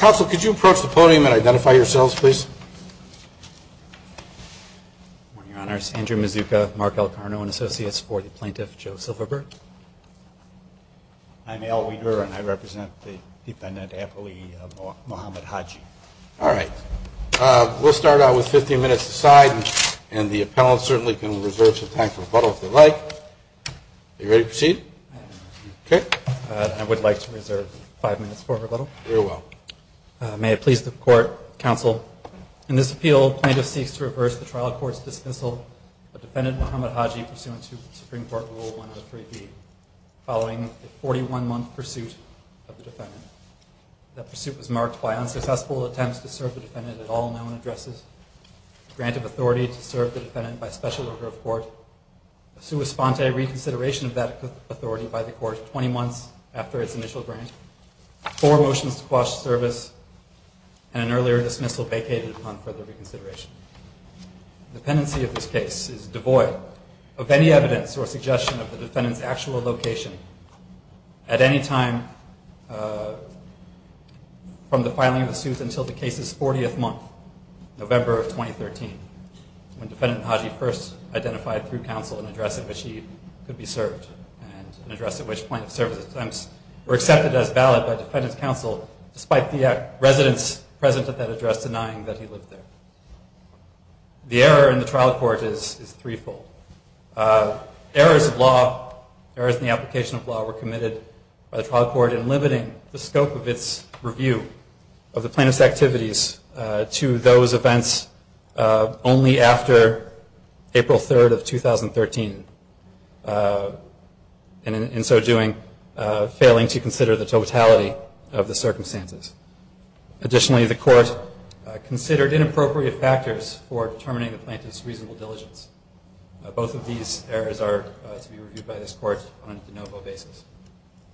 Council, could you approach the podium and identify yourselves, please? Good morning, Your Honors. Andrew Mazzucca, Mark Elkarno, and Associates for the Plaintiff, Joe Silverberg. I'm Al Wiederer, and I represent the defendant, Apolli Mohamed Haji. All right. We'll start out with 15 minutes aside, and the appellant certainly can reserve some time for rebuttal if they'd like. Are you ready to proceed? I am. Okay. I would like to reserve 5 minutes for rebuttal. Very well. May it please the Court, Counsel, in this appeal, plaintiff seeks to reverse the trial court's dismissal of defendant Mohamed Haji pursuant to Supreme Court Rule 103B, following a 41-month pursuit of the defendant. That pursuit was marked by unsuccessful attempts to serve the defendant at all known addresses. A grant of authority to serve the defendant by special order of court. A sua sponte reconsideration of that authority by the court 20 months after its initial grant. Four motions to quash the service, and an earlier dismissal vacated upon further reconsideration. The pendency of this case is devoid of any evidence or suggestion of the defendant's actual location at any time from the filing of the suit until the case's 40th month, November of 2013, when defendant Haji first identified through counsel an address in which he could be served, and an address in which plaintiff's service attempts were accepted as valid by defendant's counsel, despite the residents present at that address denying that he lived there. The error in the trial court is three-fold. Errors of law, errors in the application of law were committed by the trial court in limiting the scope of its review of the plaintiff's activities to those events only after April 3rd of 2013, and in so doing, failing to consider the totality of the circumstances. Additionally, the court considered inappropriate factors for determining the plaintiff's reasonable diligence. Both of these errors are to be reviewed by this court on a de novo basis.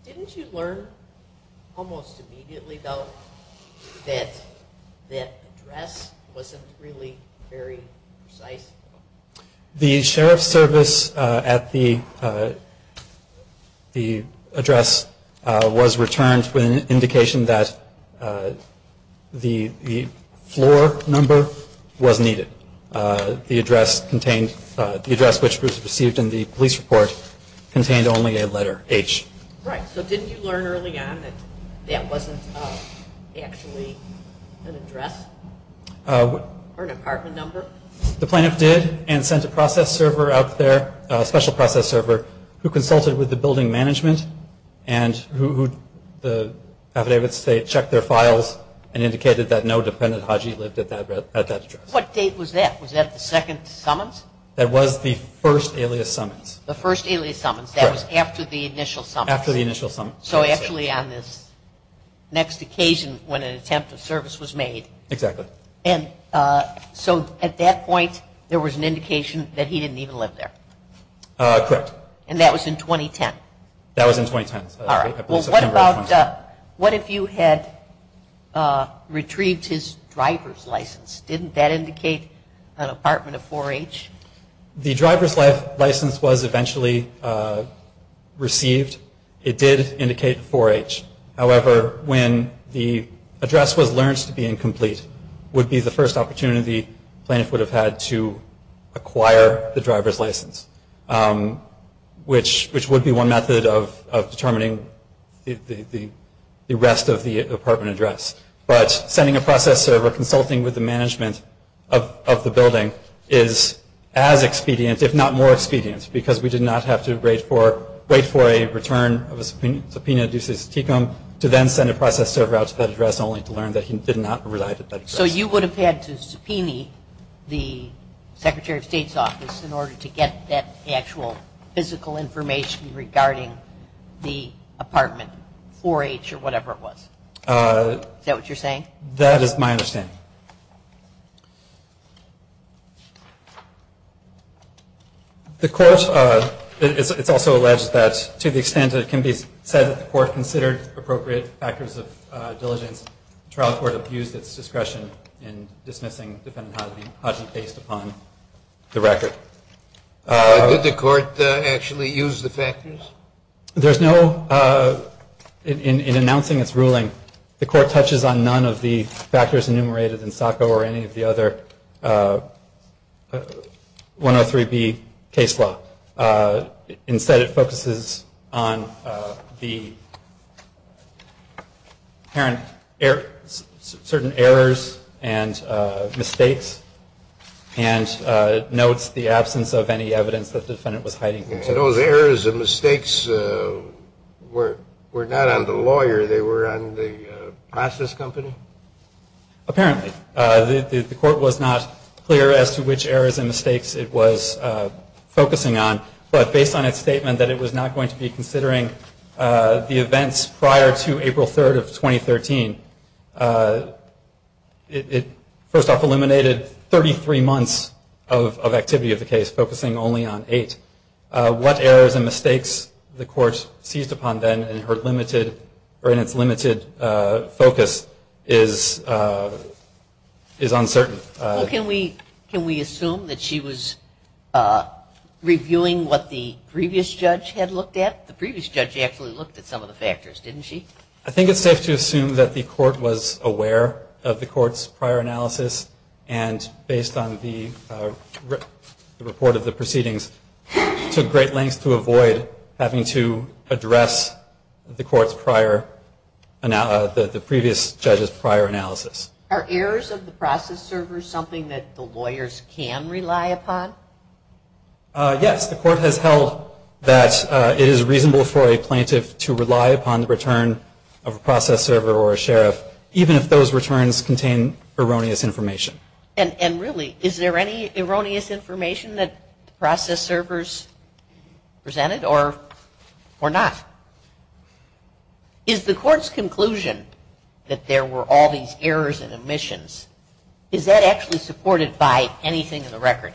Didn't you learn almost immediately, though, that that address wasn't really very precise? The sheriff's service at the address was returned with an indication that the floor number was needed. The address contained, the address which was received in the police report contained only a letter, H. Right, so didn't you learn early on that that wasn't actually an address or an apartment number? The plaintiff did, and sent a process server out there, a special process server, who consulted with the building management and who, the affidavits, they checked their files and indicated that no dependent Haji lived at that address. What date was that? Was that the second summons? That was the first alias summons. The first alias summons. Correct. That was after the initial summons. After the initial summons. So actually on this next occasion when an attempt of service was made. Exactly. And so at that point, there was an indication that he didn't even live there. Correct. And that was in 2010? That was in 2010. What if you had retrieved his driver's license? Didn't that indicate an apartment of 4H? The driver's license was eventually received. It did indicate 4H. However, when the address was learned to be incomplete, would be the first opportunity the plaintiff would have had to acquire the driver's license, which would be one method of determining the rest of the apartment address. But sending a process server, consulting with the management of the building, is as expedient, if not more expedient, because we did not have to wait for a return of a subpoena due to Tecum to then send a process server out to that address only to learn that he did not reside at that address. So you would have had to subpoena the Secretary of State's office in order to get that actual physical information regarding the apartment, 4H or whatever it was. Is that what you're saying? That is my understanding. The court, it's also alleged that to the extent that it can be said that the court considered appropriate factors of diligence, the trial court abused its discretion in dismissing Defendant Hodgey based upon the record. Did the court actually use the factors? There's no, in announcing its ruling, the court touches on none of the factors enumerated in Sacco or any of the other 103B case law. Instead, it focuses on certain errors and mistakes and notes the absence of any evidence that the defendant was hiding. And those errors and mistakes were not on the lawyer. They were on the process company? Apparently. The court was not clear as to which errors and mistakes it was focusing on. But based on its statement that it was not going to be considering the events prior to April 3rd of 2013, it first off eliminated 33 months of activity of the case, focusing only on eight. What errors and mistakes the court seized upon then in its limited focus is uncertain. Can we assume that she was reviewing what the previous judge had looked at? The previous judge actually looked at some of the factors, didn't she? I think it's safe to assume that the court was aware of the court's prior analysis and based on the report of the proceedings, took great lengths to avoid having to address the previous judge's prior analysis. Are errors of the process server something that the lawyers can rely upon? Yes. The court has held that it is reasonable for a plaintiff to rely upon the return of a process server or a sheriff, even if those returns contain erroneous information. And really, is there any erroneous information that the process servers presented or not? Is the court's conclusion that there were all these errors and omissions, is that actually supported by anything in the record?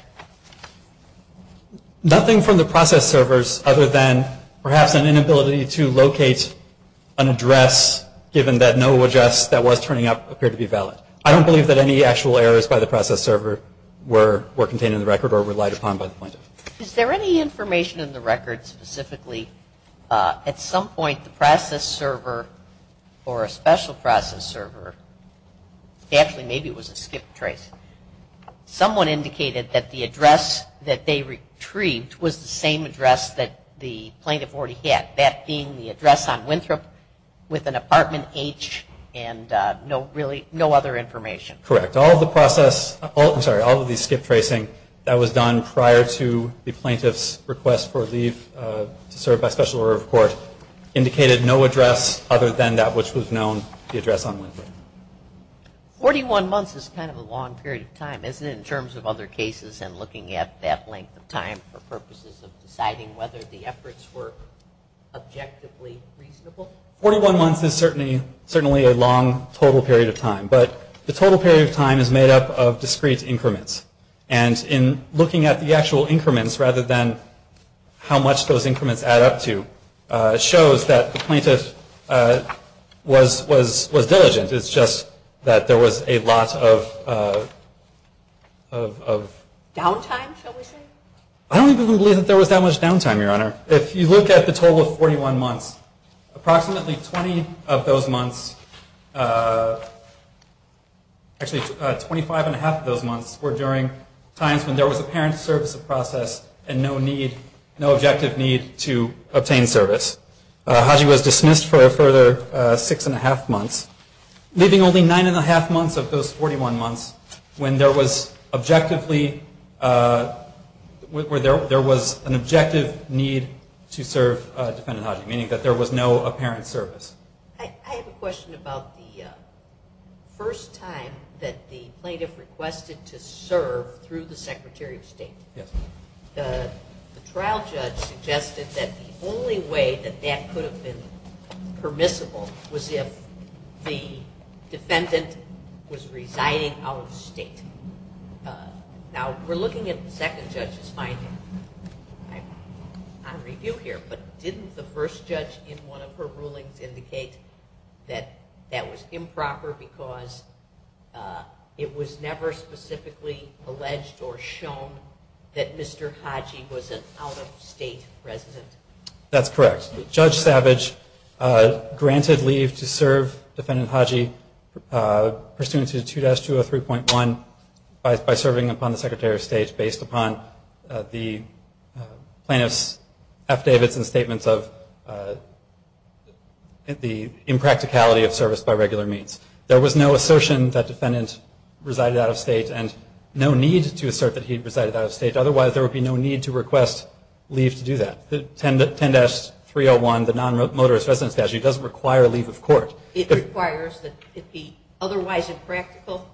Nothing from the process servers other than perhaps an inability to locate an address given that no address that was turning up appeared to be valid. I don't believe that any actual errors by the process server were contained in the record or relied upon by the plaintiff. Is there any information in the record specifically at some point the process server or a special process server, actually maybe it was a skip trace, someone indicated that the address that they retrieved was the same address that the plaintiff already had, that being the address on Winthrop with an apartment H and no other information? Correct. All of the process, I'm sorry, all of the skip tracing that was done prior to the plaintiff's request for leave to serve by special order of court indicated no address other than that which was known, the address on Winthrop. 41 months is kind of a long period of time, isn't it, in terms of other cases and looking at that length of time for purposes of deciding whether the efforts were objectively reasonable? 41 months is certainly a long total period of time. But the total period of time is made up of discrete increments. And in looking at the actual increments rather than how much those increments add up to shows that the plaintiff was diligent. It's just that there was a lot of... Downtime, shall we say? I don't even believe that there was that much downtime, Your Honor. If you look at the total of 41 months, approximately 20 of those months, actually 25 and a half of those months were during times when there was apparent service of process and no objective need to obtain service. Haji was dismissed for a further six and a half months, leaving only nine and a half months of those 41 months when there was an objective need to serve Defendant Haji, meaning that there was no apparent service. I have a question about the first time that the plaintiff requested to serve through the Secretary of State. The trial judge suggested that the only way that that could have been permissible was if the defendant was residing out of state. Now, we're looking at the second judge's finding on review here, but didn't the first judge in one of her rulings indicate that that was improper because it was never specifically alleged or shown that Mr. Haji was an out-of-state resident? That's correct. Judge Savage granted leave to serve Defendant Haji pursuant to 2-203.1 by serving upon the Secretary of State based upon the plaintiff's affidavits and statements of the impracticality of service by regular means. There was no assertion that Defendant resided out of state and no need to assert that he resided out of state. Otherwise, there would be no need to request leave to do that. 10-301, the Nonmotorist Residence Statute, doesn't require leave of court. It requires that it be otherwise impractical?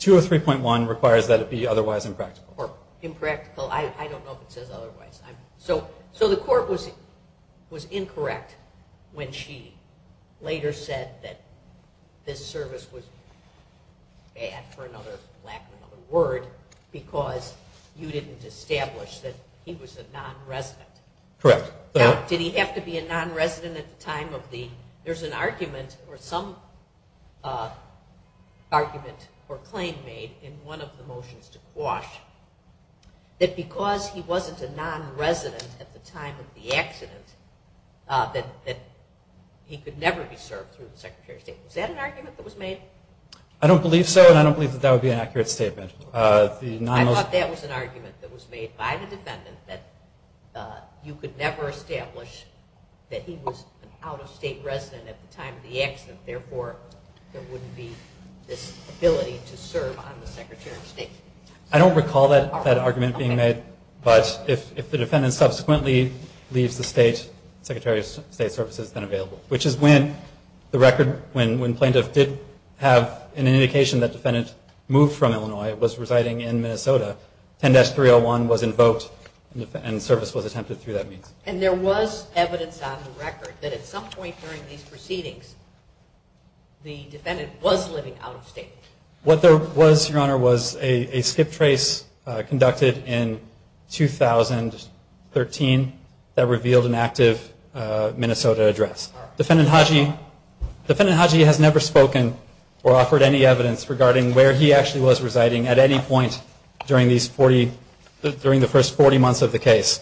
203.1 requires that it be otherwise impractical. So the court was incorrect when she later said that this service was bad for lack of another word because you didn't establish that he was a non-resident. Correct. Did he have to be a non-resident at the time of the... There's an argument or some argument or claim made in one of the motions to quash that because he wasn't a non-resident at the time of the accident that he could never be served through the Secretary of State. Was that an argument that was made? I don't believe so and I don't believe that that would be an accurate statement. I thought that was an argument that was made by the Defendant that you could never establish that he was an out-of-state resident at the time of the accident. Therefore, there wouldn't be this ability to serve on the Secretary of State. I don't recall that argument being made, but if the Defendant subsequently leaves the State, the Secretary of State's service has been available, which is when the record, when Plaintiff did have an indication that the Defendant moved from Illinois and was residing in Minnesota, 10-301 was invoked and service was attempted through that means. And there was evidence on the record that at some point during these proceedings, the Defendant was living out-of-state? What there was, Your Honor, was a skip trace conducted in 2013 that revealed an active Minnesota address. Defendant Haji has never spoken or offered any evidence regarding where he actually was residing at any point during the first 40 months of the case.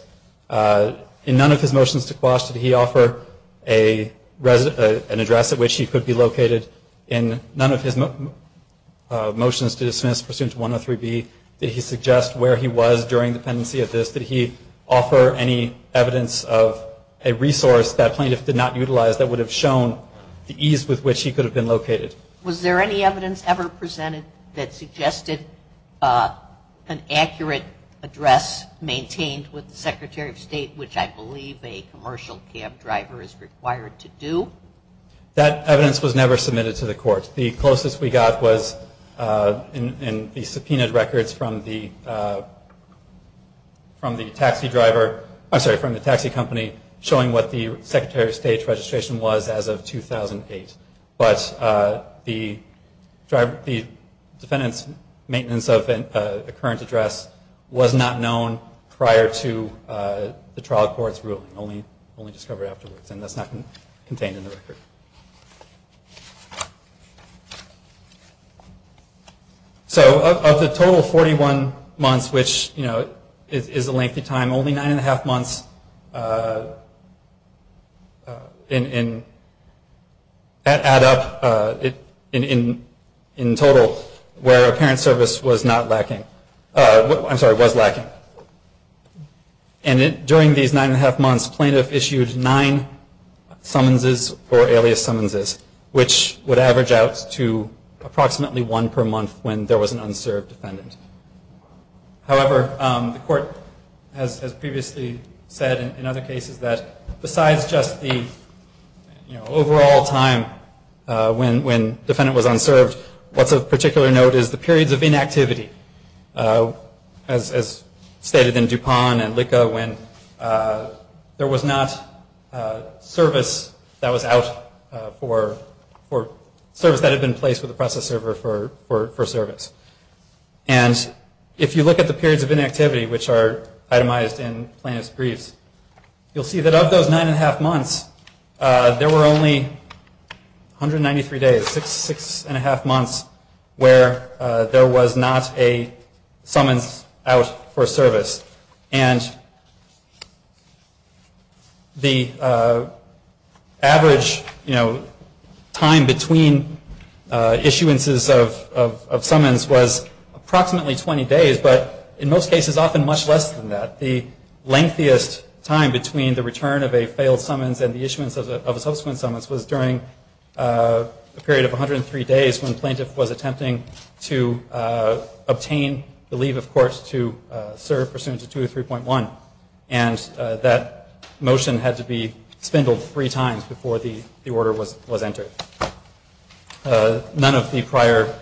In none of his motions to quash, did he offer an address at which he could be located? In none of his motions to dismiss pursuant to 103B, did he suggest where he was during the pendency of this? Did he offer any evidence of a resource that Plaintiff did not utilize that would have shown the ease with which he could have been located? Was there any evidence ever presented that suggested an accurate address maintained with the Secretary of State, which I believe a commercial cab driver is required to do? That evidence was never submitted to the court. The closest we got was in the subpoenaed records from the taxi driver, I'm sorry, from the taxi company, showing what the Secretary of State's registration was as of 2008. But the defendant's maintenance of a current address was not known prior to the trial court's ruling, only discovered afterwards. And that's not contained in the record. So of the total 41 months, which is a lengthy time, only nine and a half months add up in total, where apparent service was lacking. And during these nine and a half months, Plaintiff issued nine summonses or alias summonses, which would average out to approximately one per month when there was an unserved defendant. However, the court has previously said in other cases that besides just the overall time when defendant was unserved, what's of particular note is the periods of inactivity, as stated in DuPont and LICA, when there was not service that was out for service that had been placed with the process server for service. And if you look at the periods of inactivity, which are itemized in Plaintiff's briefs, you'll see that of those nine and a half months, there were only 193 days, six and a half months, where there was not a summons out for service. And the average time between issuances of summons was approximately 20 days, but in most cases often much less than that. The lengthiest time between the return of a failed summons and the issuance of a subsequent summons was during a period of 103 days when Plaintiff was attempting to obtain the leave of court to serve pursuant to 203.1, and that motion had to be spindled three times before the order was entered. None of the prior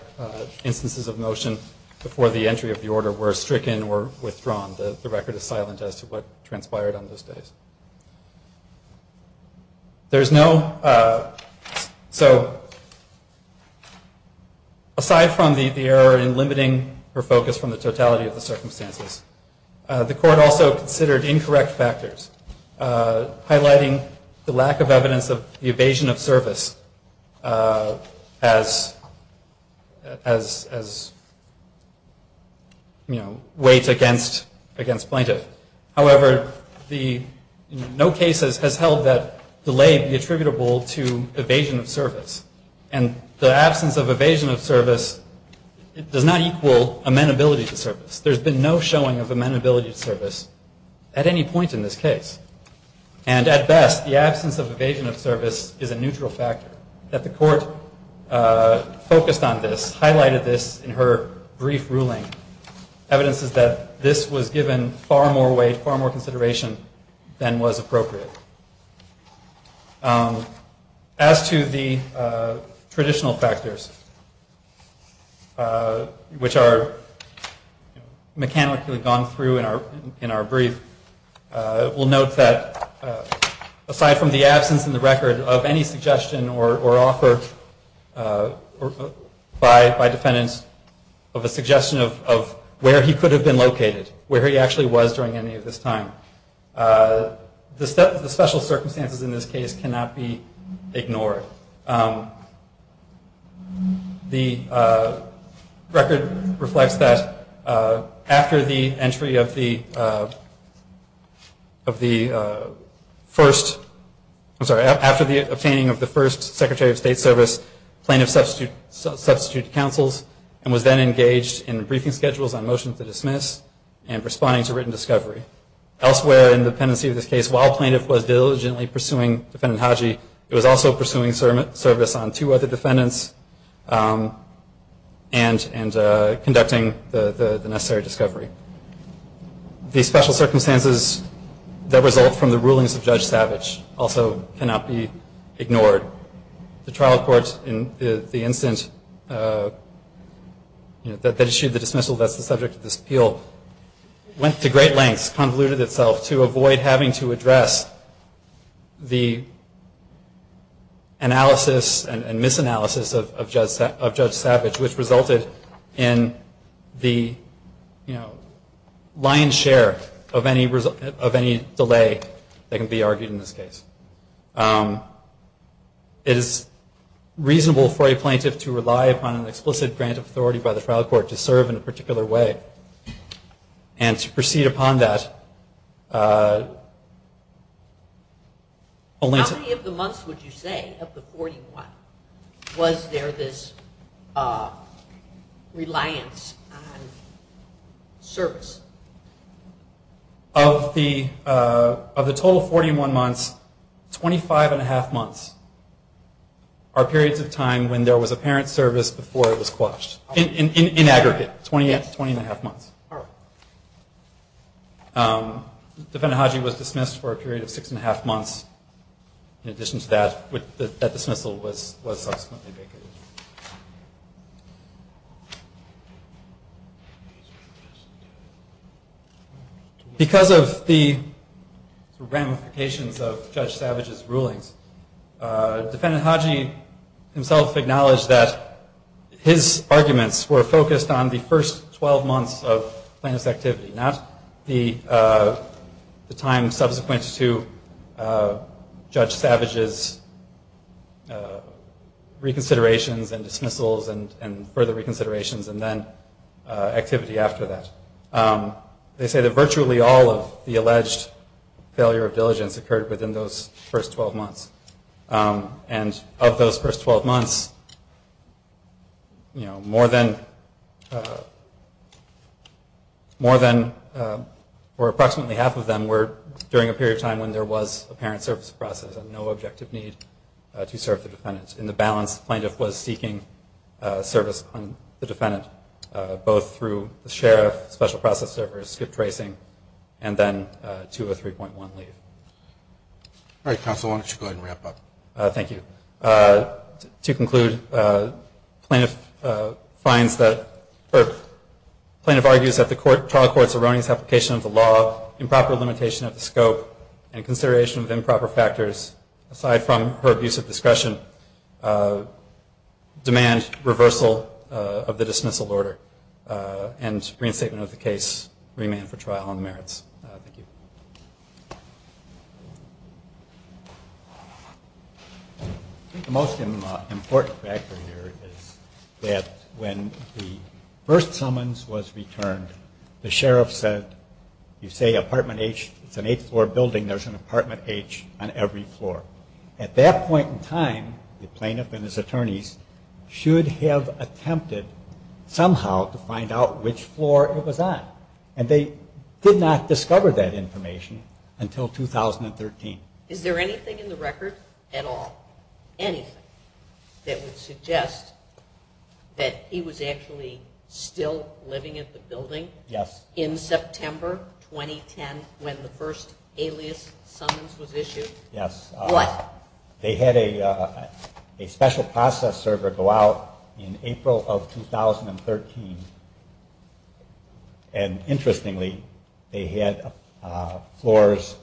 instances of motion before the entry of the order were stricken or withdrawn. The record is silent as to what transpired on those days. There's no, so aside from the error in limiting her focus from the totality of the circumstances, the court also considered incorrect factors, highlighting the lack of evidence of the evasion of service as weight against Plaintiff. However, no case has held that delay be attributable to evasion of service, and the absence of evasion of service does not equal amenability to service. There's been no showing of amenability to service at any point in this case. And at best, the absence of evasion of service is a neutral factor, that the court focused on this, highlighted this in her brief ruling. Evidence is that this was given far more weight, far more consideration than was appropriate. As to the traditional factors, which are mechanically gone through in our brief, we'll note that aside from the absence in the record of any suggestion or offer by the court, the court did not act by defense of a suggestion of where he could have been located, where he actually was during any of this time. The special circumstances in this case cannot be ignored. The record reflects that after the entry of the first, I'm sorry, after the obtaining of the first Secretary of State's service, Plaintiff substituted counsels and was then engaged in briefing schedules on motions to dismiss and responding to written discovery. Elsewhere in the pendency of this case, while Plaintiff was diligently pursuing Defendant Hodgey, it was also pursuing service on two other defendants and conducting the necessary discovery. The special circumstances that result from the rulings of Judge Savage also cannot be ignored. The trial court in the instance that issued the dismissal that's the subject of this appeal went to great lengths, convoluted itself, to avoid having to address the analysis and misanalysis of Judge Savage, which resulted in the lion's share of any delay that can be argued in this case. It is reasonable for a plaintiff to rely upon an explicit grant of authority by the trial court to serve in a particular way, and to proceed upon that only to... How many of the months would you say, of the 41, was there this reliance on service? Of the total 41 months, 25.5 months are periods of time when there was apparent service before it was quashed, in aggregate, 20.5 months. Defendant Hodgey was dismissed for a period of 6.5 months. In addition to that, that dismissal was subsequently vacated. Because of the ramifications of Judge Savage's rulings, defendant Hodgey himself acknowledged that his arguments were focused on the first 12 months of plaintiff's activity, not the time subsequent to Judge Savage's reconsiderations and dismissals and further reconsiderations and then activity after that. They say that virtually all of the alleged failure of diligence occurred within those first 12 months. And of those first 12 months, you know, more than... More than, or approximately half of them, were during a period of time when there was apparent service process and no objective need to serve the defendant. In the balance, the plaintiff was seeking service on the defendant, both through the sheriff, special process service, and the jury. And then, the plaintiff was acquitted for skip tracing and then 203.1 leave. All right, counsel, why don't you go ahead and wrap up. Thank you. To conclude, plaintiff finds that... Plaintiff argues that the trial court's erroneous application of the law, improper limitation of the scope, and consideration of improper factors, aside from her abuse of discretion, demand reversal of the dismissal order and reinstatement of the case. Remand for trial on the merits. Thank you. I think the most important factor here is that when the first summons was returned, the sheriff said, you say apartment H, it's an eight-floor building, there's an apartment H on every floor. At that point in time, the plaintiff and his attorneys should have attempted somehow to find out which floor it was on. And they did. They did not discover that information until 2013. Is there anything in the record at all, anything, that would suggest that he was actually still living at the building? Yes. In September 2010, when the first alias summons was issued? Yes. What? They had a special process server go out in April of 2013, and interestingly, they had a special process server. Interestingly, they had floors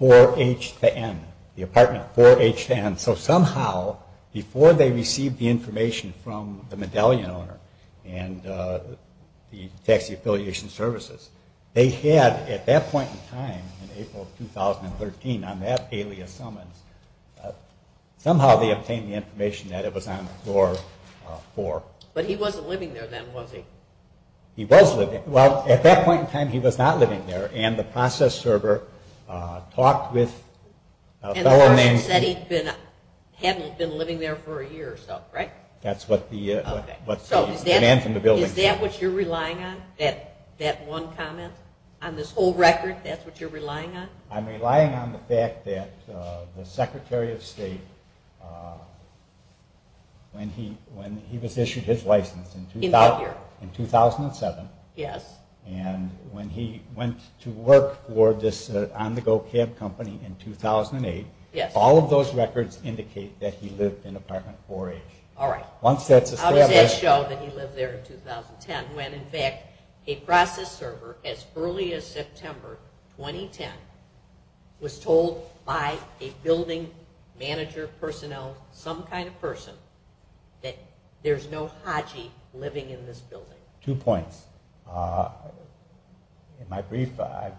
4H to N, the apartment 4H to N. So somehow, before they received the information from the medallion owner and the taxi affiliation services, they had, at that point in time, in April of 2013, on that alias summons, somehow they obtained the information that it was on floor 4. But he wasn't living there then, was he? He was living. Well, at that point in time, he was not living there, and the process server talked with a fellow named... And the person said he hadn't been living there for a year or so, right? That's what the man from the building said. Is that what you're relying on, that one comment? On this whole record, that's what you're relying on? I'm relying on the fact that the Secretary of State, when he was issued his first alias summons, said that he was not living there. He issued his license in 2007, and when he went to work for this on-the-go cab company in 2008, all of those records indicate that he lived in apartment 4H. All right. How does that show that he lived there in 2010, when in fact, a process server, as early as September 2010, was told by a building manager, personnel, some kind of person, that there's no high-level process server. Two points. In my brief, I've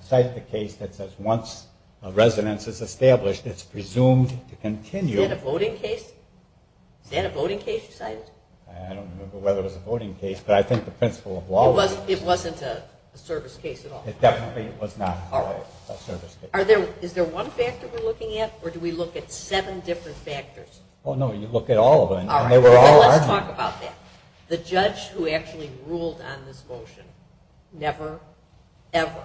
cited the case that says once a residence is established, it's presumed to continue... Is that a voting case you cited? I don't remember whether it was a voting case, but I think the principle of law... It wasn't a service case at all? It definitely was not a service case. Is there one factor we're looking at, or do we look at seven different factors? Oh, no, you look at all of them, and they were all argued. All right. Well, let's talk about that. The judge who actually ruled on this motion never, ever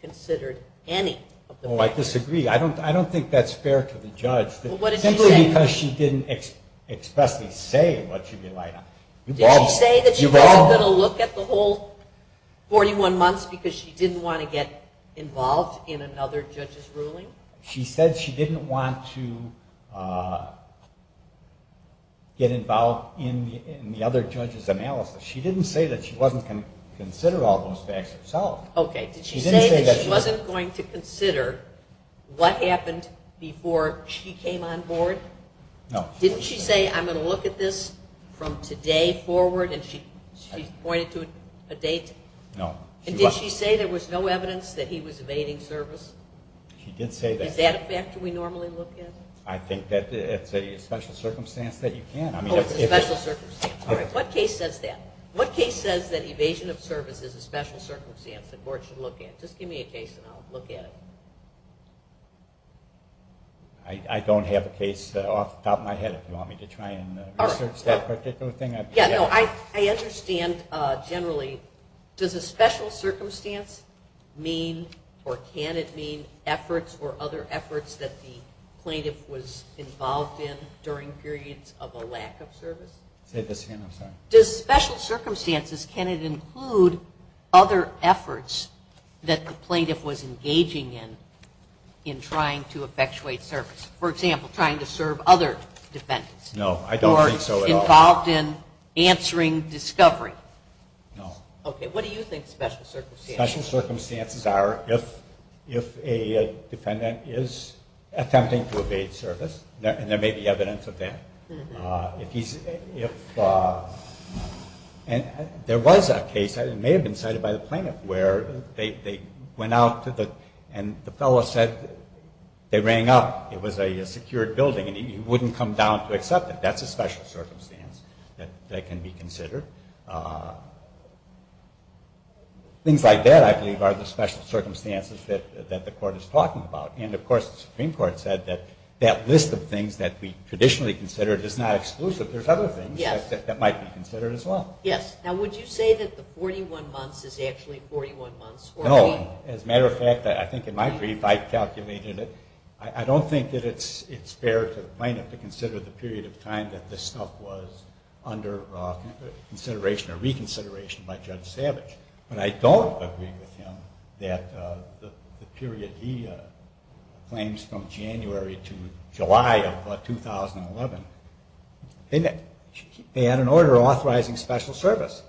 considered any of the factors. Oh, I disagree. I don't think that's fair to the judge, simply because she didn't expressly say what she relied on. Did she say that she wasn't going to look at the whole 41 months because she didn't want to get involved in another judge's ruling? She said she didn't want to get involved in the other judge's analysis. She didn't say that she wasn't going to consider all those facts herself. Okay. Did she say that she wasn't going to consider what happened before she came on board? No. Didn't she say, I'm going to look at this from today forward, and she pointed to a date? No. And did she say there was no evidence that he was evading service? She did say that. Is that a factor we normally look at? I think that's a special circumstance that you can. Oh, it's a special circumstance. All right. What case says that? What case says that evasion of service is a special circumstance the court should look at? Just give me a case and I'll look at it. I don't have a case off the top of my head if you want me to try and research that particular thing. I understand generally. Does a special circumstance mean or can it mean efforts or other efforts that the plaintiff was involved in during periods of a lack of service? Say this again, I'm sorry. Does special circumstances, can it include other efforts that the plaintiff was engaging in? In trying to effectuate service? For example, trying to serve other defendants? No, I don't think so at all. Or involved in answering discovery? No. Okay. What do you think special circumstances are? Special circumstances are if a defendant is attempting to evade service, and there may be evidence of that. If he's, if, and there was a case, it may have been cited by the plaintiff, where they went out to the, and the fellow said they rang up, it was a secured building, and he wouldn't come down to accept it. That's a special circumstance that can be considered. Things like that, I believe, are the special circumstances that the court is talking about. And, of course, the Supreme Court said that that list of things that we traditionally consider is not exclusive. There's other things that might be considered as well. Yes. Now, would you say that the 41 months is actually 41 months? No. As a matter of fact, I think in my brief, I calculated it. I don't think that it's fair to the plaintiff to consider the period of time that this stuff was under consideration or reconsideration by Judge Savage. But I don't agree with him that the period he claims from January to July of 2011, they had an order authorizing special service.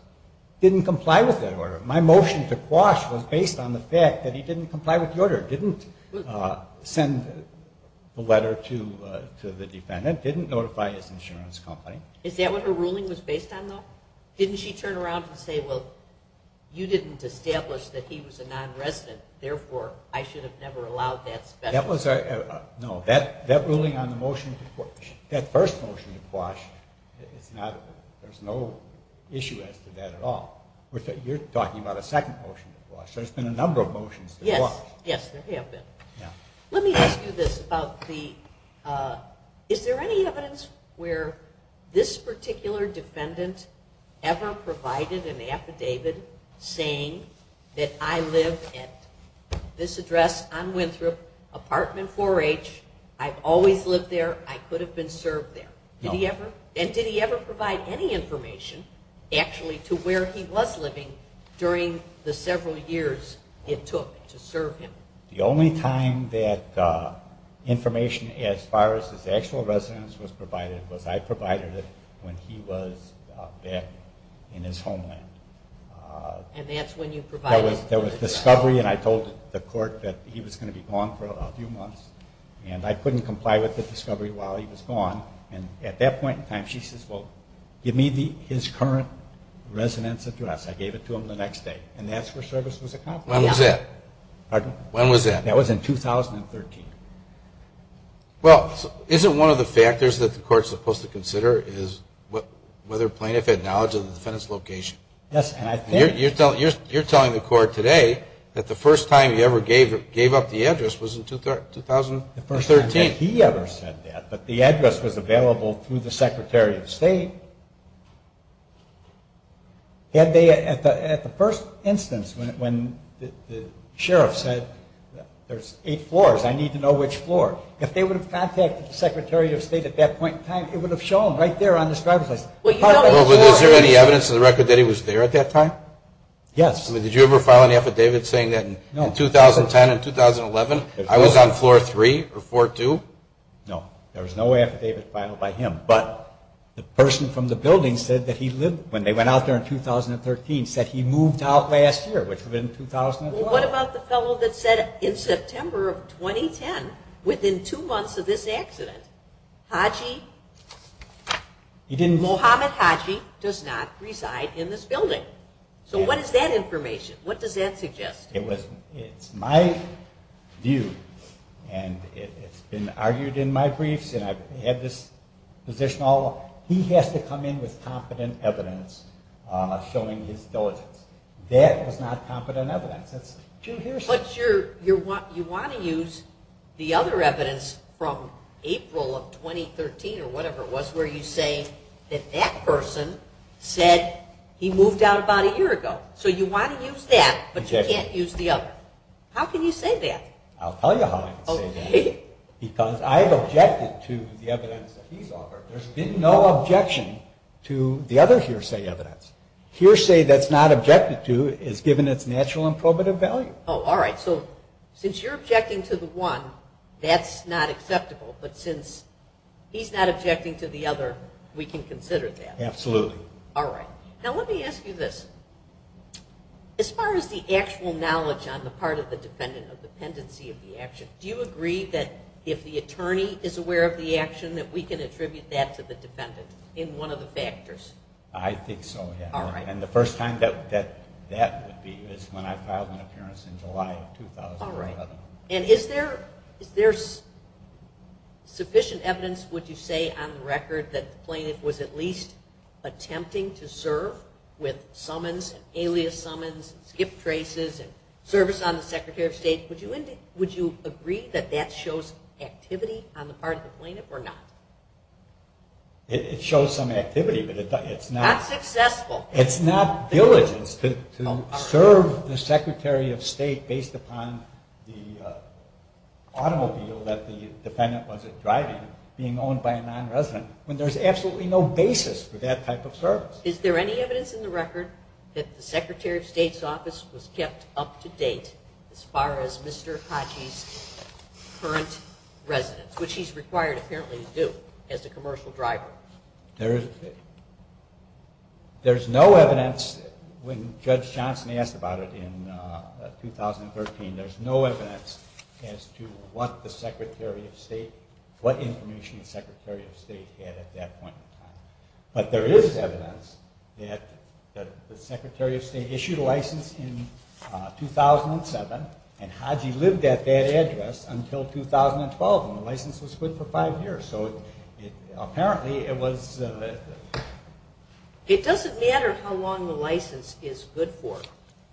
Didn't comply with that order. My motion to Quash was based on the fact that he didn't comply with the order, didn't send a letter to the defendant, didn't notify his insurance company. Is that what her ruling was based on, though? Didn't she turn around and say, well, you didn't establish that he was a non-resident, therefore, I should have never allowed that special service? No. That ruling on the motion to Quash, that first motion to Quash, there's no issue as to that at all. You're talking about a second motion to Quash. There's been a number of motions to Quash. Yes. Yes, there have been. Let me ask you this about the... Is there any evidence where this motion to Quash was based on the fact that he didn't comply with the order? Has this particular defendant ever provided an affidavit saying that I live at this address on Winthrop, Apartment 4H, I've always lived there, I could have been served there? No. And did he ever provide any information, actually, to where he was living during the several years it took to serve him? The only time that information as far as his actual residence was provided was I provided it when he was back in his homeland. And that's when you provided it? There was discovery, and I told the court that he was going to be gone for a few months, and I couldn't comply with the discovery while he was gone, and at that point in time, she says, well, give me his current residence address. I gave it to him the next day, and that's where service was accomplished. When was that? That was in 2013. Well, isn't one of the factors that the court's supposed to consider is whether plaintiff had knowledge of the defendant's location? Yes, and I think... The sheriff said there's eight floors, I need to know which floor. If they would have contacted the Secretary of State at that point in time, it would have shown right there on this driver's license. Well, but is there any evidence in the record that he was there at that time? Yes. I mean, did you ever file an affidavit saying that in 2010 and 2011, I was on Floor 3 or 4-2? Well, what about the fellow that said in September of 2010, within two months of this accident, Haji... Muhammad Haji does not reside in this building. So what is that information? What does that suggest? It's my view, and it's been argued in my briefs, and I've had this position all along. He has to come in with competent evidence showing his diligence. That was not competent evidence. That's not what happened. But you want to use the other evidence from April of 2013 or whatever it was where you say that that person said he moved out about a year ago. So you want to use that, but you can't use the other. How can you say that? I'll tell you how I can say that. Because I've objected to the evidence that he's offered. There's been no objection to the other hearsay evidence. Hearsay that's not objected to is given its natural and probative value. Oh, all right. So since you're objecting to the one, that's not acceptable. But since he's not objecting to the other, we can consider that. Absolutely. All right. Now let me ask you this. As far as the actual knowledge on the part of the defendant of dependency of the action, do you agree that if the attorney is aware of the action, that we can attribute that to the defendant in one of the factors? I think so, yeah. And the first time that that would be is when I filed an appearance in July of 2011. All right. And is there sufficient evidence, would you say, on the record that the plaintiff was at least attempting to serve with summons and alias summons and skip traces and service on the Secretary of State? Would you agree that that shows activity on the part of the plaintiff or not? It shows some activity, but it's not... Not successful. It's not diligence to serve the Secretary of State based upon the automobile that the defendant was driving, being owned by a nonresident, when there's absolutely no basis for that type of service. Is there any evidence in the record that the Secretary of State's office was kept up to date as far as Mr. Khaji's current residence, which he's required apparently to do as the commercial driver? There is... There's no evidence, when Judge Johnson asked about it in 2013, there's no evidence as to what the Secretary of State, what information the Secretary of State had at that point in time. But there is evidence that the Secretary of State issued a license in 2007, and Khaji lived at that address until 2012, and the license was good for five years. So apparently it was... It doesn't matter how long the license is good for.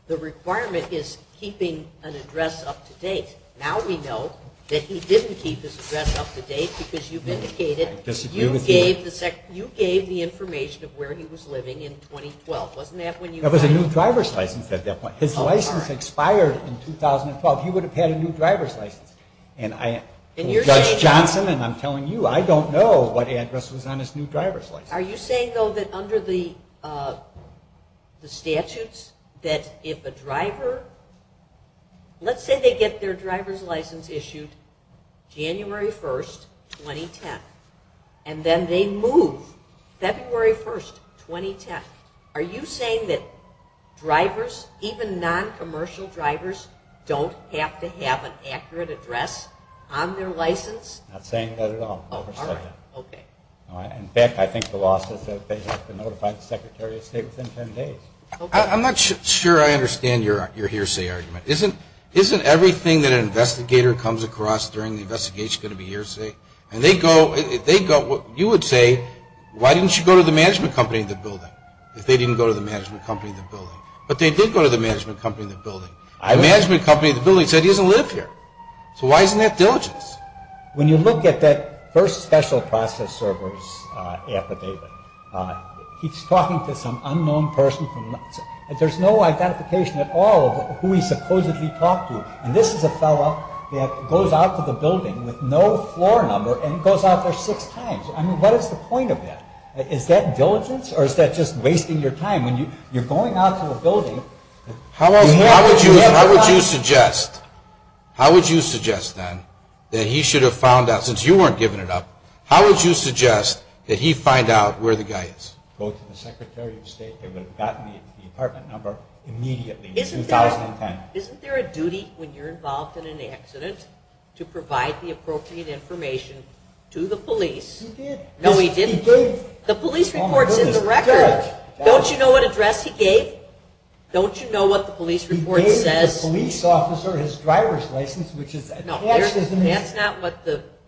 The requirement is keeping an address up to date. Now we know that he didn't keep his address up to date because you vindicated... I disagree with you. You gave the information of where he was living in 2012. Wasn't that when you... That was a new driver's license at that point. His license expired in 2012. He would have had a new driver's license. And I... And you're saying... Judge Johnson, and I'm telling you, I don't know what address was on his new driver's license. Are you saying, though, that under the statutes, that if a driver... Let's say they get their driver's license issued January 1st, 2010, and then they move February 1st, 2010. Are you saying that drivers, even non-commercial drivers, don't have to have an accurate address on their license? I'm not saying that at all. In fact, I think the law says that they have to notify the Secretary of State within 10 days. I'm not sure I understand your hearsay argument. Isn't everything that an investigator comes across during the investigation going to be hearsay? And they go... You would say, why didn't you go to the management company in the building, if they didn't go to the management company in the building? But they did go to the management company in the building. The management company in the building said he doesn't live here. So why isn't that diligence? When you look at that first special process server's affidavit, he's talking to some unknown person. There's no identification at all of who he supposedly talked to. And this is a fellow that goes out to the building with no floor number and goes out there six times. I mean, what is the point of that? Is that diligence, or is that just wasting your time? When you're going out to a building... How would you suggest, then, that he should have found out, since you weren't giving it up, how would you suggest that he find out where the guy is? Go to the Secretary of State. They would have gotten the apartment number immediately in 2010. Isn't there a duty when you're involved in an accident to provide the appropriate information to the police? He did. No, he didn't. He did. The police report's in the record. Don't you know what address he gave? Don't you know what the police report says? He gave the police officer his driver's license, which is attached to his name. No,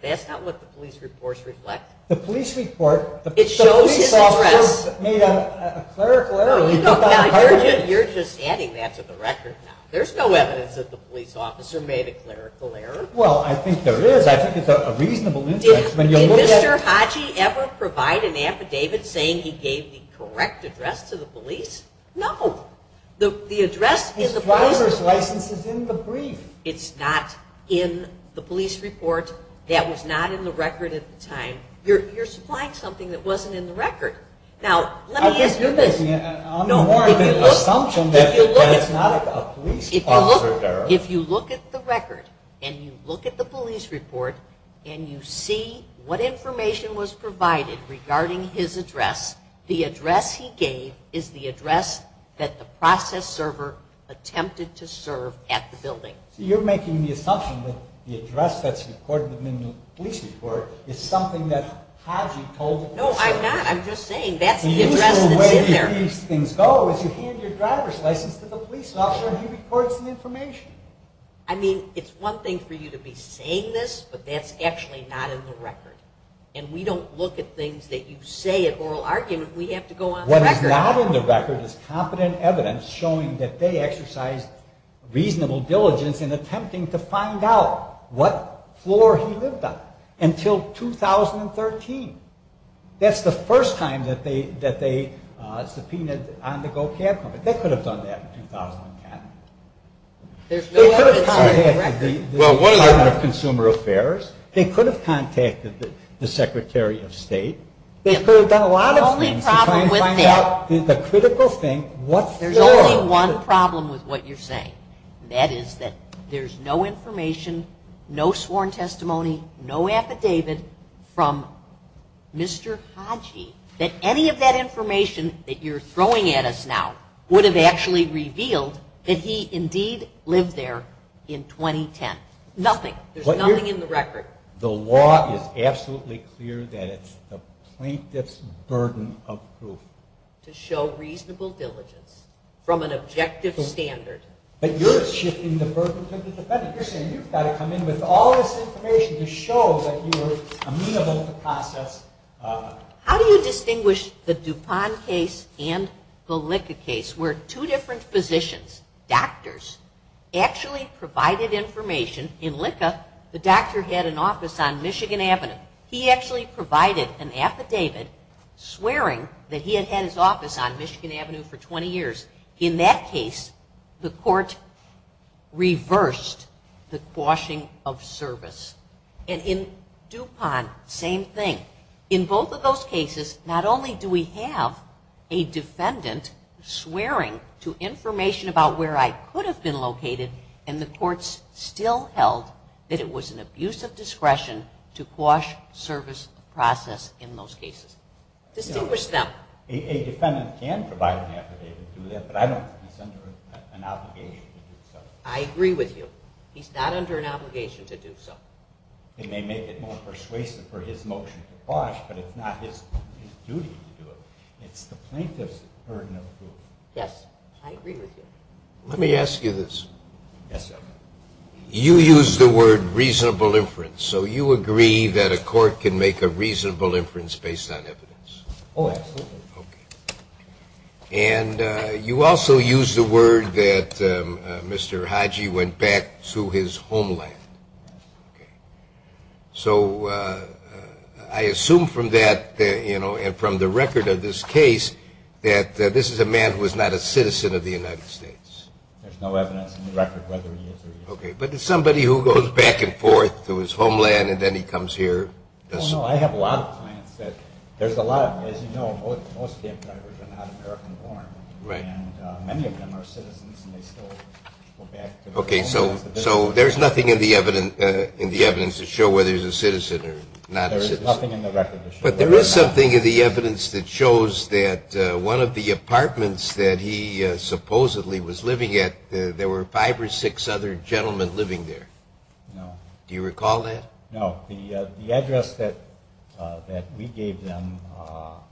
that's not what the police reports reflect. The police report... It shows his address. The police officer made a clerical error. No, you're just adding that to the record now. There's no evidence that the police officer made a clerical error. Well, I think there is. I think it's a reasonable interest. Did Mr. Hodge ever provide an affidavit saying he gave the correct address to the police? No. The address in the police... His driver's license is in the brief. It's not in the police report. That was not in the record at the time. You're supplying something that wasn't in the record. Now, let me ask you this. I'm more of an assumption that it's not a police officer error. If you look at the record and you look at the police report and you see what information was provided regarding his address, the address he gave is the address that the process server attempted to serve at the building. So you're making the assumption that the address that's recorded in the police report is something that Hodge told the police server. No, I'm not. I'm just saying that's the address that's in there. Where do these things go is you hand your driver's license to the police officer and he records the information. I mean, it's one thing for you to be saying this, but that's actually not in the record. And we don't look at things that you say in oral argument. We have to go on the record. What is not in the record is competent evidence showing that they exercised reasonable diligence in attempting to find out what floor he lived on until 2013. That's the first time that they subpoenaed on the go cab company. They could have done that in 2010. They could have contacted the Department of Consumer Affairs. They could have contacted the Secretary of State. They could have done a lot of things to try and find out the critical thing, what floor. There's only one problem with what you're saying. That is that there's no information, no sworn testimony, no affidavit from Mr. Hodgey. That any of that information that you're throwing at us now would have actually revealed that he indeed lived there in 2010. Nothing. There's nothing in the record. The law is absolutely clear that it's the plaintiff's burden of proof. to show reasonable diligence from an objective standard. But you're shifting the burden to the defendant. You're saying you've got to come in with all this information to show that you were amenable to process. How do you distinguish the DuPont case and the Licka case? Where two different physicians, doctors, actually provided information. In Licka, the doctor had an office on Michigan Avenue. He actually provided an affidavit swearing that he had had his office on Michigan Avenue for 20 years. In that case, the court reversed the quashing of service. And in DuPont, same thing. In both of those cases, not only do we have a defendant swearing to information about where I could have been located, and the courts still held that it was an abuse of discretion to quash service process in those cases. Distinguish them. A defendant can provide an affidavit to do that, but I don't think he's under an obligation to do so. I agree with you. He's not under an obligation to do so. It may make it more persuasive for his motion to quash, but it's not his duty to do it. It's the plaintiff's burden of proof. Yes, I agree with you. Let me ask you this. Yes, sir. You used the word reasonable inference, so you agree that a court can make a reasonable inference based on evidence? Oh, absolutely. Okay. And you also used the word that Mr. Haji went back to his homeland. Okay. So I assume from that, you know, and from the record of this case, that this is a man who is not a citizen of the United States. There's no evidence in the record whether he is or isn't. Okay. But it's somebody who goes back and forth to his homeland, and then he comes here. Oh, no. I have a lot of clients that there's a lot of them. As you know, most of them are not American-born. And many of them are citizens, and they still go back to their homelands. Okay. So there's nothing in the evidence to show whether he's a citizen or not a citizen. There is nothing in the record to show that. But there is something in the evidence that shows that one of the apartments that he supposedly was living at, there were five or six other gentlemen living there. No. Do you recall that? No. The address that we gave them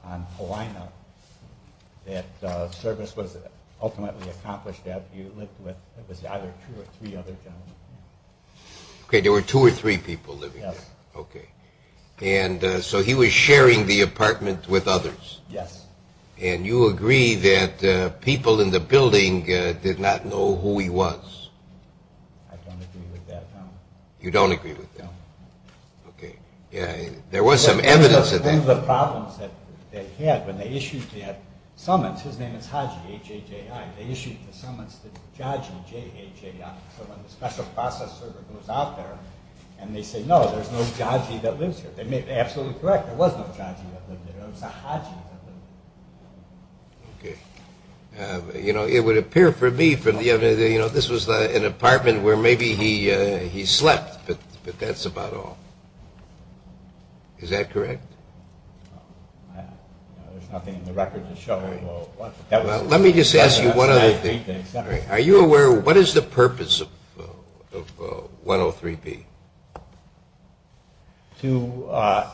on Hawaiiana that service was ultimately accomplished at, he lived with, it was either two or three other gentlemen. Okay. There were two or three people living there. Yes. Okay. And so he was sharing the apartment with others. Yes. And you agree that people in the building did not know who he was. I don't agree with that, no. You don't agree with that? No. Okay. Yeah, there was some evidence of that. One of the problems that they had when they issued the summons, his name is Haji, H-A-J-I. They issued the summons to Jaji, J-A-J-I. So when the special process server goes out there and they say, no, there's no Jaji that lives here, they may be absolutely correct. There was no Jaji that lived there. It was a Haji that lived there. Okay. You know, it would appear for me from the evidence, you know, this was an apartment where maybe he slept, but that's about all. Is that correct? There's nothing in the record to show. Let me just ask you one other thing. Are you aware, what is the purpose of 103B? To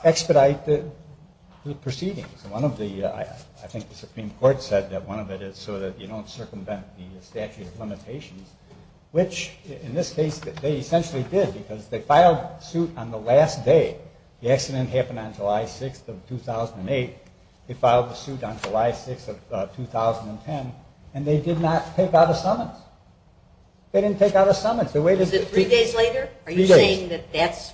expedite the proceedings. I think the Supreme Court said that one of it is so that you don't circumvent the statute of limitations, which in this case they essentially did because they filed suit on the last day. The accident happened on July 6th of 2008. They filed the suit on July 6th of 2010, and they did not take out a summons. They didn't take out a summons. Is it three days later? Three days.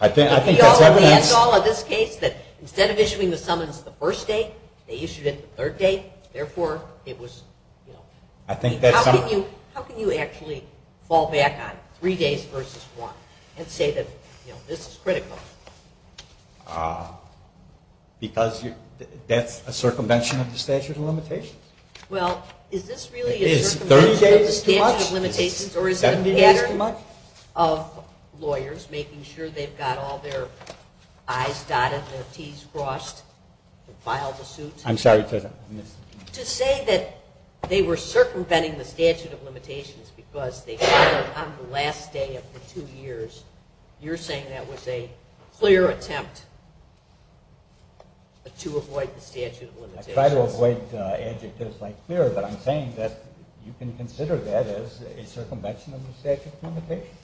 I think that's evidence. Instead of issuing the summons the first day, they issued it the third day. Therefore, it was, you know. I think that's evidence. How can you actually fall back on three days versus one and say that, you know, this is critical? Because that's a circumvention of the statute of limitations. Well, is this really a circumvention of the statute of limitations, or is it a pattern of lawyers making sure they've got all their I's dotted and their T's crossed and filed a suit? I'm sorry. To say that they were circumventing the statute of limitations because they filed on the last day of the two years, you're saying that was a clear attempt to avoid the statute of limitations? I try to avoid adjectives like clear, but I'm saying that you can consider that as a circumvention of the statute of limitations.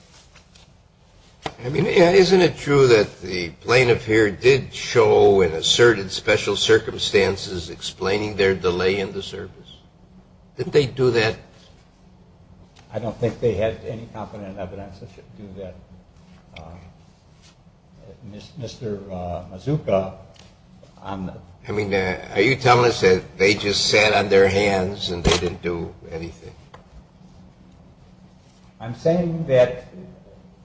I mean, isn't it true that the plaintiff here did show and asserted special circumstances explaining their delay in the service? Didn't they do that? I don't think they had any competent evidence to do that. Mr. Mazuka. I mean, are you telling us that they just sat on their hands and they didn't do anything? I'm saying that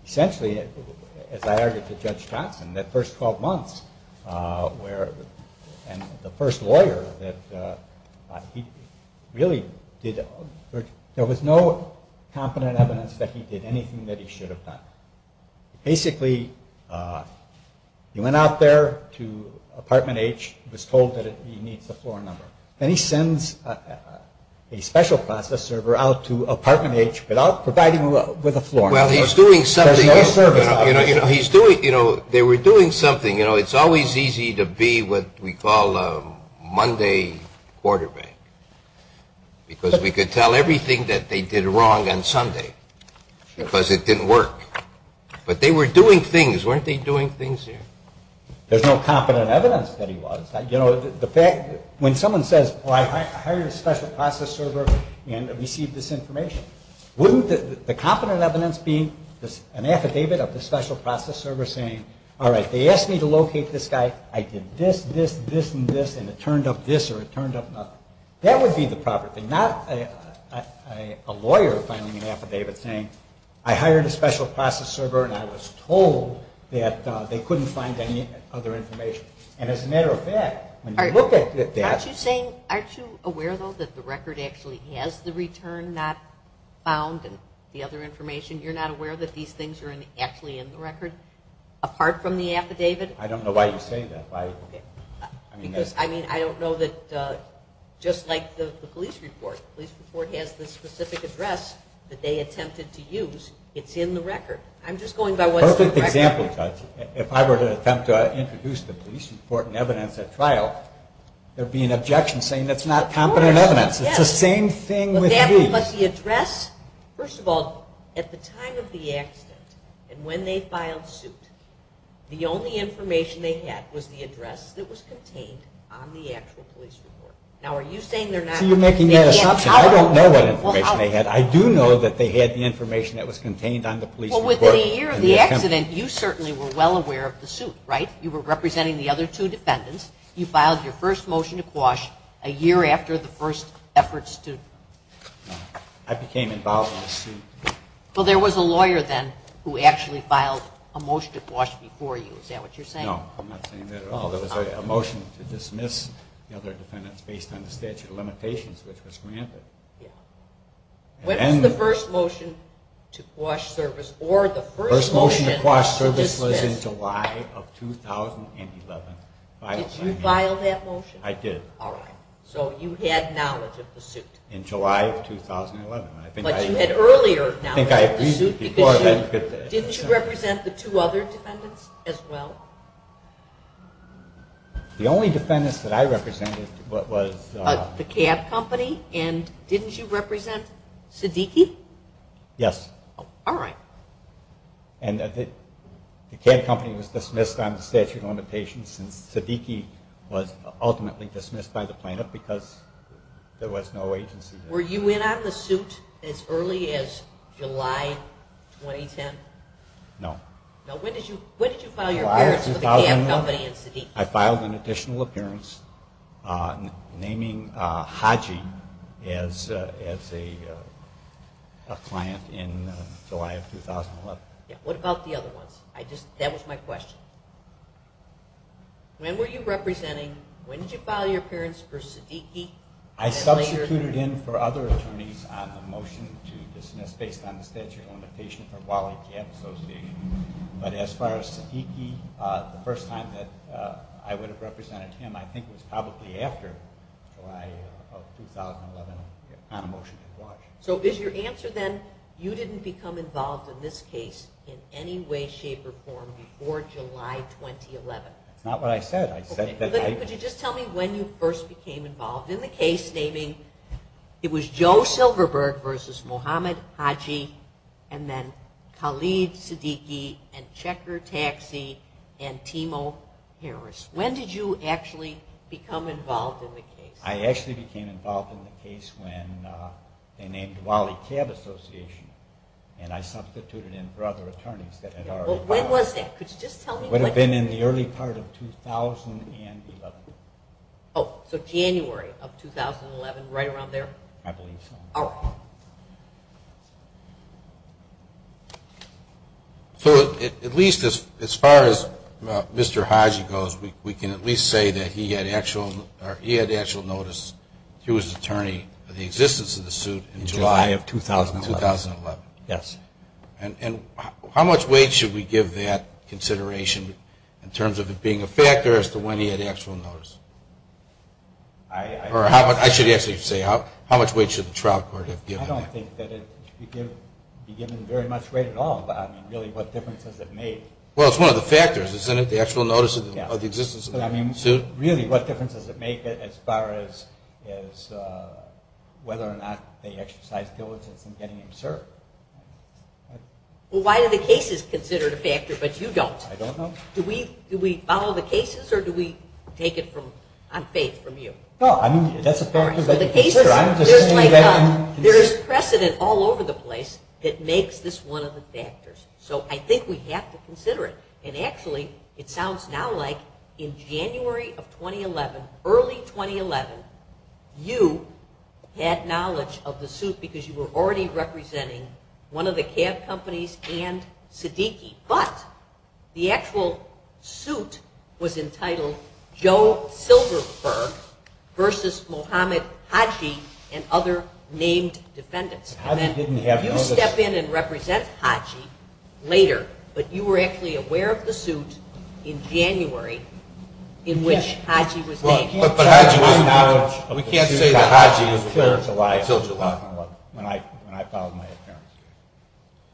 essentially, as I argued to Judge Johnson, that first 12 months where the first lawyer that he really did, there was no competent evidence that he did anything that he should have done. Basically, he went out there to Apartment H, was told that he needs a floor number, and he sends a special process server out to Apartment H without providing him with a floor number. Well, he's doing something. There's no service. They were doing something. You know, it's always easy to be what we call a Monday quarterback, because we could tell everything that they did wrong on Sunday because it didn't work. But they were doing things. Weren't they doing things there? There's no competent evidence that he was. You know, when someone says, well, I hired a special process server and received this information, wouldn't the competent evidence be an affidavit of the special process server saying, all right, they asked me to locate this guy, I did this, this, this, and this, and it turned up this or it turned up that. That would be the proper thing, not a lawyer filing an affidavit saying I hired a special process server and I was told that they couldn't find any other information. And as a matter of fact, when you look at that. Aren't you aware, though, that the record actually has the return not found and the other information? You're not aware that these things are actually in the record apart from the affidavit? I don't know why you say that. I mean, I don't know that just like the police report, the police report has the specific address that they attempted to use. It's in the record. I'm just going by what's in the record. Perfect example, Judge. If I were to attempt to introduce the police report and evidence at trial, there would be an objection saying that's not competent evidence. It's the same thing with the police. But the address, first of all, at the time of the accident and when they filed suit, the only information they had was the address that was contained on the actual police report. Now, are you saying they're not? See, you're making that assumption. I don't know what information they had. I do know that they had the information that was contained on the police report. Well, within a year of the accident, you certainly were well aware of the suit, right? You were representing the other two defendants. You filed your first motion to quash a year after the first effort stood. I became involved in the suit. Well, there was a lawyer then who actually filed a motion to quash before you. Is that what you're saying? No, I'm not saying that at all. There was a motion to dismiss the other defendants based on the statute of limitations, which was granted. When was the first motion to quash service or the first motion to dismiss? This was in July of 2011. Did you file that motion? I did. All right. So you had knowledge of the suit. In July of 2011. But you had earlier knowledge of the suit because didn't you represent the two other defendants as well? The only defendants that I represented was the cab company. And didn't you represent Siddiqui? Yes. All right. And the cab company was dismissed on the statute of limitations since Siddiqui was ultimately dismissed by the plaintiff because there was no agency there. Were you in on the suit as early as July 2010? No. When did you file your appearance with the cab company and Siddiqui? I filed an additional appearance naming Haji as a client in July of 2011. What about the other ones? That was my question. When were you representing? When did you file your appearance for Siddiqui? I substituted in for other attorneys on the motion to dismiss based on the statute of limitations for Wally Cab Association. But as far as Siddiqui, the first time that I would have represented him I think was probably after July of 2011 on a motion to discharge. So is your answer then you didn't become involved in this case in any way, shape, or form before July 2011? That's not what I said. Could you just tell me when you first became involved in the case, It was Joe Silverberg versus Mohammad Haji and then Khalid Siddiqui and Checker Taxi and Timo Harris. When did you actually become involved in the case? I actually became involved in the case when they named Wally Cab Association and I substituted in for other attorneys. When was that? Could you just tell me when? It would have been in the early part of 2011. Oh, so January of 2011, right around there? I believe so. All right. So at least as far as Mr. Haji goes, we can at least say that he had actual notice. He was the attorney for the existence of the suit in July of 2011. Yes. And how much weight should we give that consideration in terms of it being a factor as to when he had actual notice? I should actually say how much weight should the trial court have given that? I don't think that it should be given very much weight at all, but I mean really what difference does it make? Well, it's one of the factors, isn't it, the actual notice of the existence of the suit? Really, what difference does it make as far as whether or not they exercised diligence in getting him served? Well, why do the cases consider it a factor but you don't? I don't know. Do we follow the cases or do we take it on faith from you? No, I mean that's a factor that you consider. There's precedent all over the place that makes this one of the factors, so I think we have to consider it. And actually it sounds now like in January of 2011, early 2011, you had knowledge of the suit because you were already representing one of the cab companies and Siddiqui, but the actual suit was entitled Joe Silverberg versus Mohammed Haji and other named defendants. You step in and represent Haji later, but you were actually aware of the suit in January in which Haji was named. But we can't say that Haji was there until July when I filed my appearance.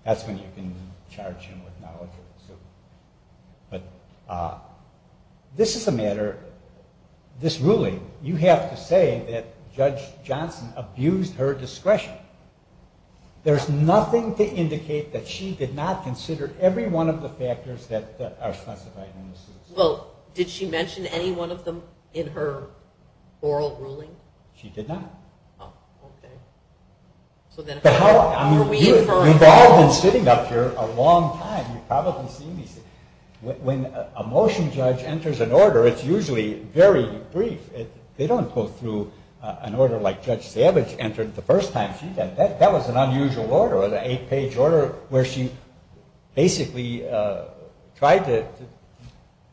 That's when you can charge him with knowledge of the suit. But this is a matter, this ruling, you have to say that Judge Johnson abused her discretion. There's nothing to indicate that she did not consider every one of the factors that are specified in the suit. Well, did she mention any one of them in her oral ruling? She did not. Oh, okay. You've all been sitting up here a long time. You've probably seen these. When a motion judge enters an order, it's usually very brief. They don't go through an order like Judge Savage entered the first time. That was an unusual order, an eight-page order where she basically tried to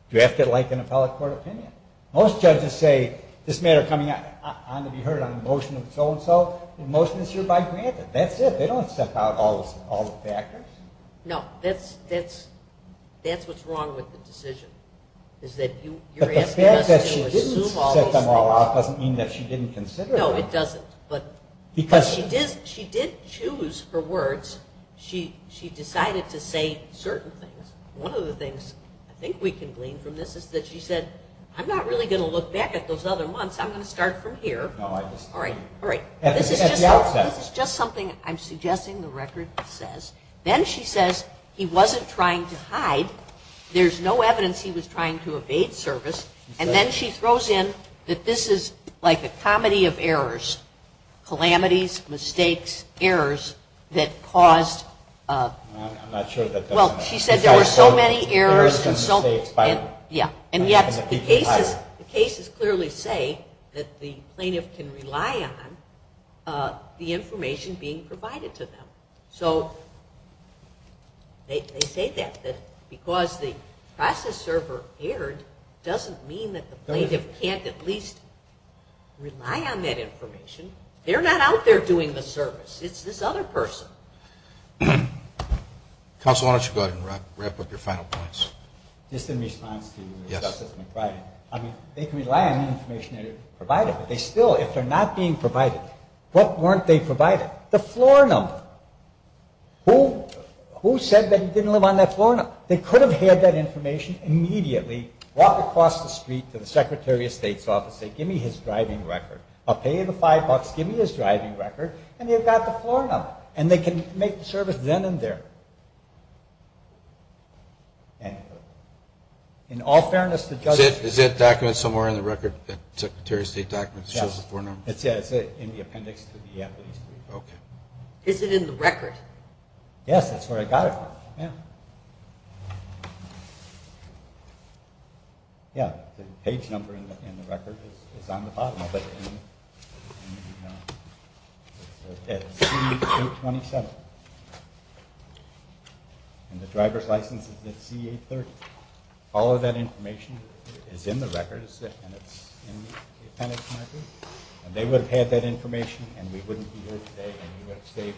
draft it like an appellate court opinion. Most judges say, this matter coming on to be heard on a motion of so-and-so, and most of this is by granted. That's it. They don't set out all the factors. No, that's what's wrong with the decision, is that you're asking us to assume all these things. But the fact that she didn't set them all out doesn't mean that she didn't consider them. No, it doesn't. Because she did choose her words. She decided to say certain things. One of the things I think we can glean from this is that she said, I'm not really going to look back at those other months. I'm going to start from here. No, I disagree. All right, all right. At the outset. This is just something I'm suggesting the record says. Then she says, he wasn't trying to hide. There's no evidence he was trying to evade service. And then she throws in that this is like a comedy of errors, calamities, mistakes, errors, that caused. I'm not sure. Well, she said there were so many errors. And yet the cases clearly say that the plaintiff can rely on the information being provided to them. So they say that. Because the process server erred doesn't mean that the plaintiff can't at least rely on that information. They're not out there doing the service. It's this other person. Counsel, why don't you go ahead and wrap up your final points. Just in response to Justice McBride, I mean, they can rely on the information they're provided. But they still, if they're not being provided, what weren't they provided? The floor number. Who said that he didn't live on that floor number? They could have had that information immediately, walked across the street to the Secretary of State's office, say, give me his driving record. I'll pay you the five bucks. Give me his driving record. And they've got the floor number. And they can make the service then and there. In all fairness to judges. Is that document somewhere in the record? That Secretary of State document that shows the floor number? Yeah, it's in the appendix to the affidavit. Okay. Is it in the record? Yes, that's where I got it from. Yeah. Yeah, the page number in the record is on the bottom of it. It's C-827. And the driver's license is at C-830. All of that information is in the record, and it's in the appendix marker. And they would have had that information, and we wouldn't be here today, and we would have saved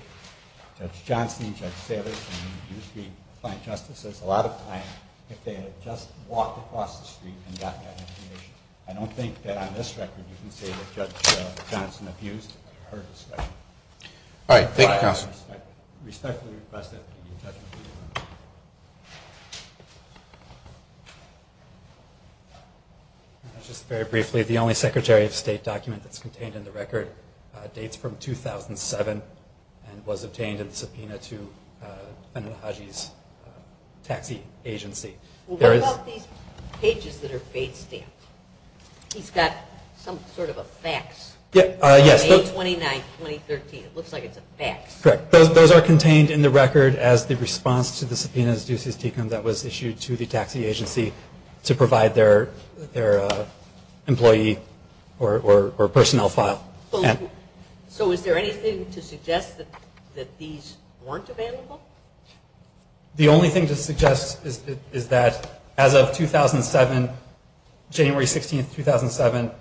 Judge Johnson and Judge Saylors and these three client justices a lot of time if they had just walked across the street and gotten that information. I don't think that on this record you can say that Judge Johnson abused her discretion. All right. Thank you, counsel. I respectfully request that the judge review the record. Just very briefly, the only Secretary of State document that's contained in the record dates from 2007 and was obtained in the subpoena to Benadadji's taxi agency. Well, what about these pages that are fade stamped? He's got some sort of a fax. Yes. A-29-2013. It looks like it's a fax. Correct. Those are contained in the record as the response to the subpoenas, that was issued to the taxi agency to provide their employee or personnel file. So is there anything to suggest that these weren't available? The only thing to suggest is that as of 2007, January 16, 2007,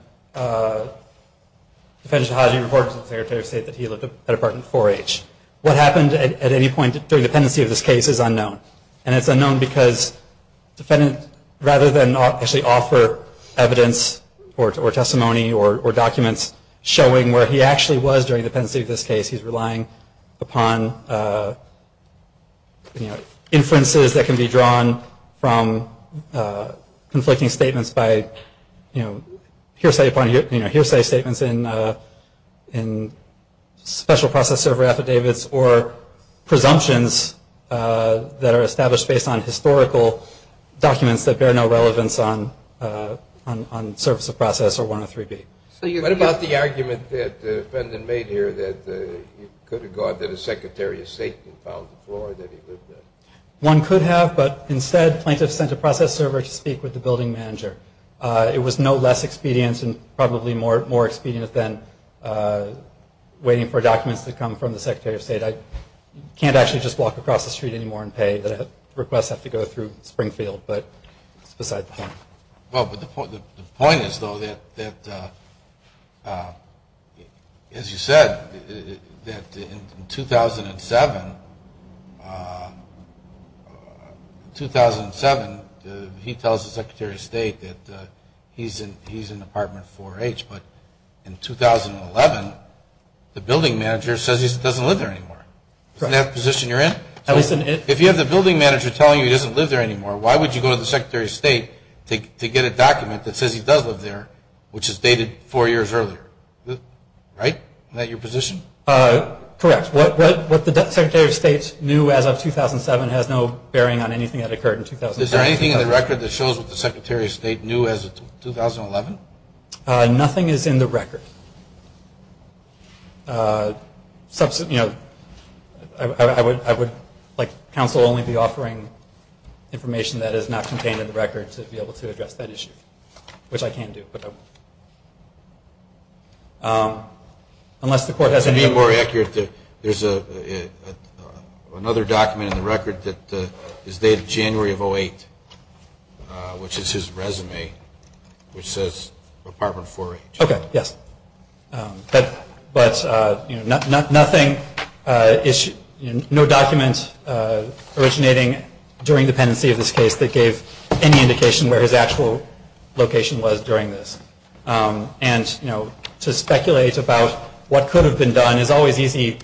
Defendant Sahajian reported to the Secretary of State that he lived at Apartment 4H. What happened at any point during the pendency of this case is unknown. And it's unknown because rather than actually offer evidence or testimony or documents showing where he actually was during the pendency of this case, he's relying upon inferences that can be drawn from conflicting statements by, you know, special process server affidavits or presumptions that are established based on historical documents that bear no relevance on surface of process or 103B. What about the argument that the defendant made here that he could have gone to the Secretary of State and found the floor that he lived in? One could have, but instead plaintiffs sent a process server to speak with the building manager. It was no less expedient and probably more expedient than waiting for documents to come from the Secretary of State. I can't actually just walk across the street anymore and pay. Requests have to go through Springfield, but it's beside the point. Well, but the point is, though, that as you said, that in 2007, he tells the Secretary of State that he's in Apartment 4H. But in 2011, the building manager says he doesn't live there anymore. Isn't that the position you're in? If you have the building manager telling you he doesn't live there anymore, why would you go to the Secretary of State to get a document that says he does live there, which is dated four years earlier, right? Isn't that your position? Correct. What the Secretary of State knew as of 2007 has no bearing on anything that occurred in 2007. Is there anything in the record that shows what the Secretary of State knew as of 2011? Nothing is in the record. I would, like counsel, only be offering information that is not contained in the record to be able to address that issue, which I can do. Unless the court has any other questions. To be more accurate, there's another document in the record that is dated January of 2008, which is his resume, which says Apartment 4H. Okay, yes. But nothing, no document originating during the pendency of this case that gave any indication where his actual location was during this. And, you know, to speculate about what could have been done is always easy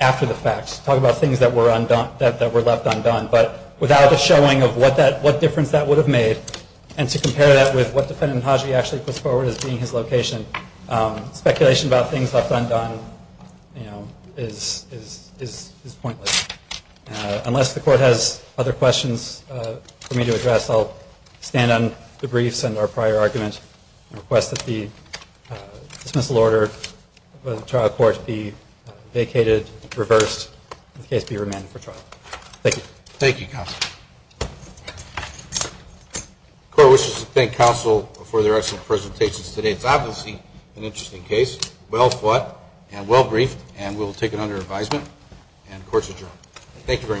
after the fact. Talk about things that were left undone. But without a showing of what difference that would have made, and to compare that with what Defendant Hadji actually puts forward as being his location, speculation about things left undone, you know, is pointless. Unless the court has other questions for me to address, I'll stand on the briefs and our prior argument and request that the dismissal order of the trial court be vacated, reversed, and the case be remanded for trial. Thank you. Thank you, counsel. The court wishes to thank counsel for their excellent presentations today. It's obviously an interesting case, well-fought and well-briefed, and we'll take it under advisement, and the court is adjourned. Thank you very much.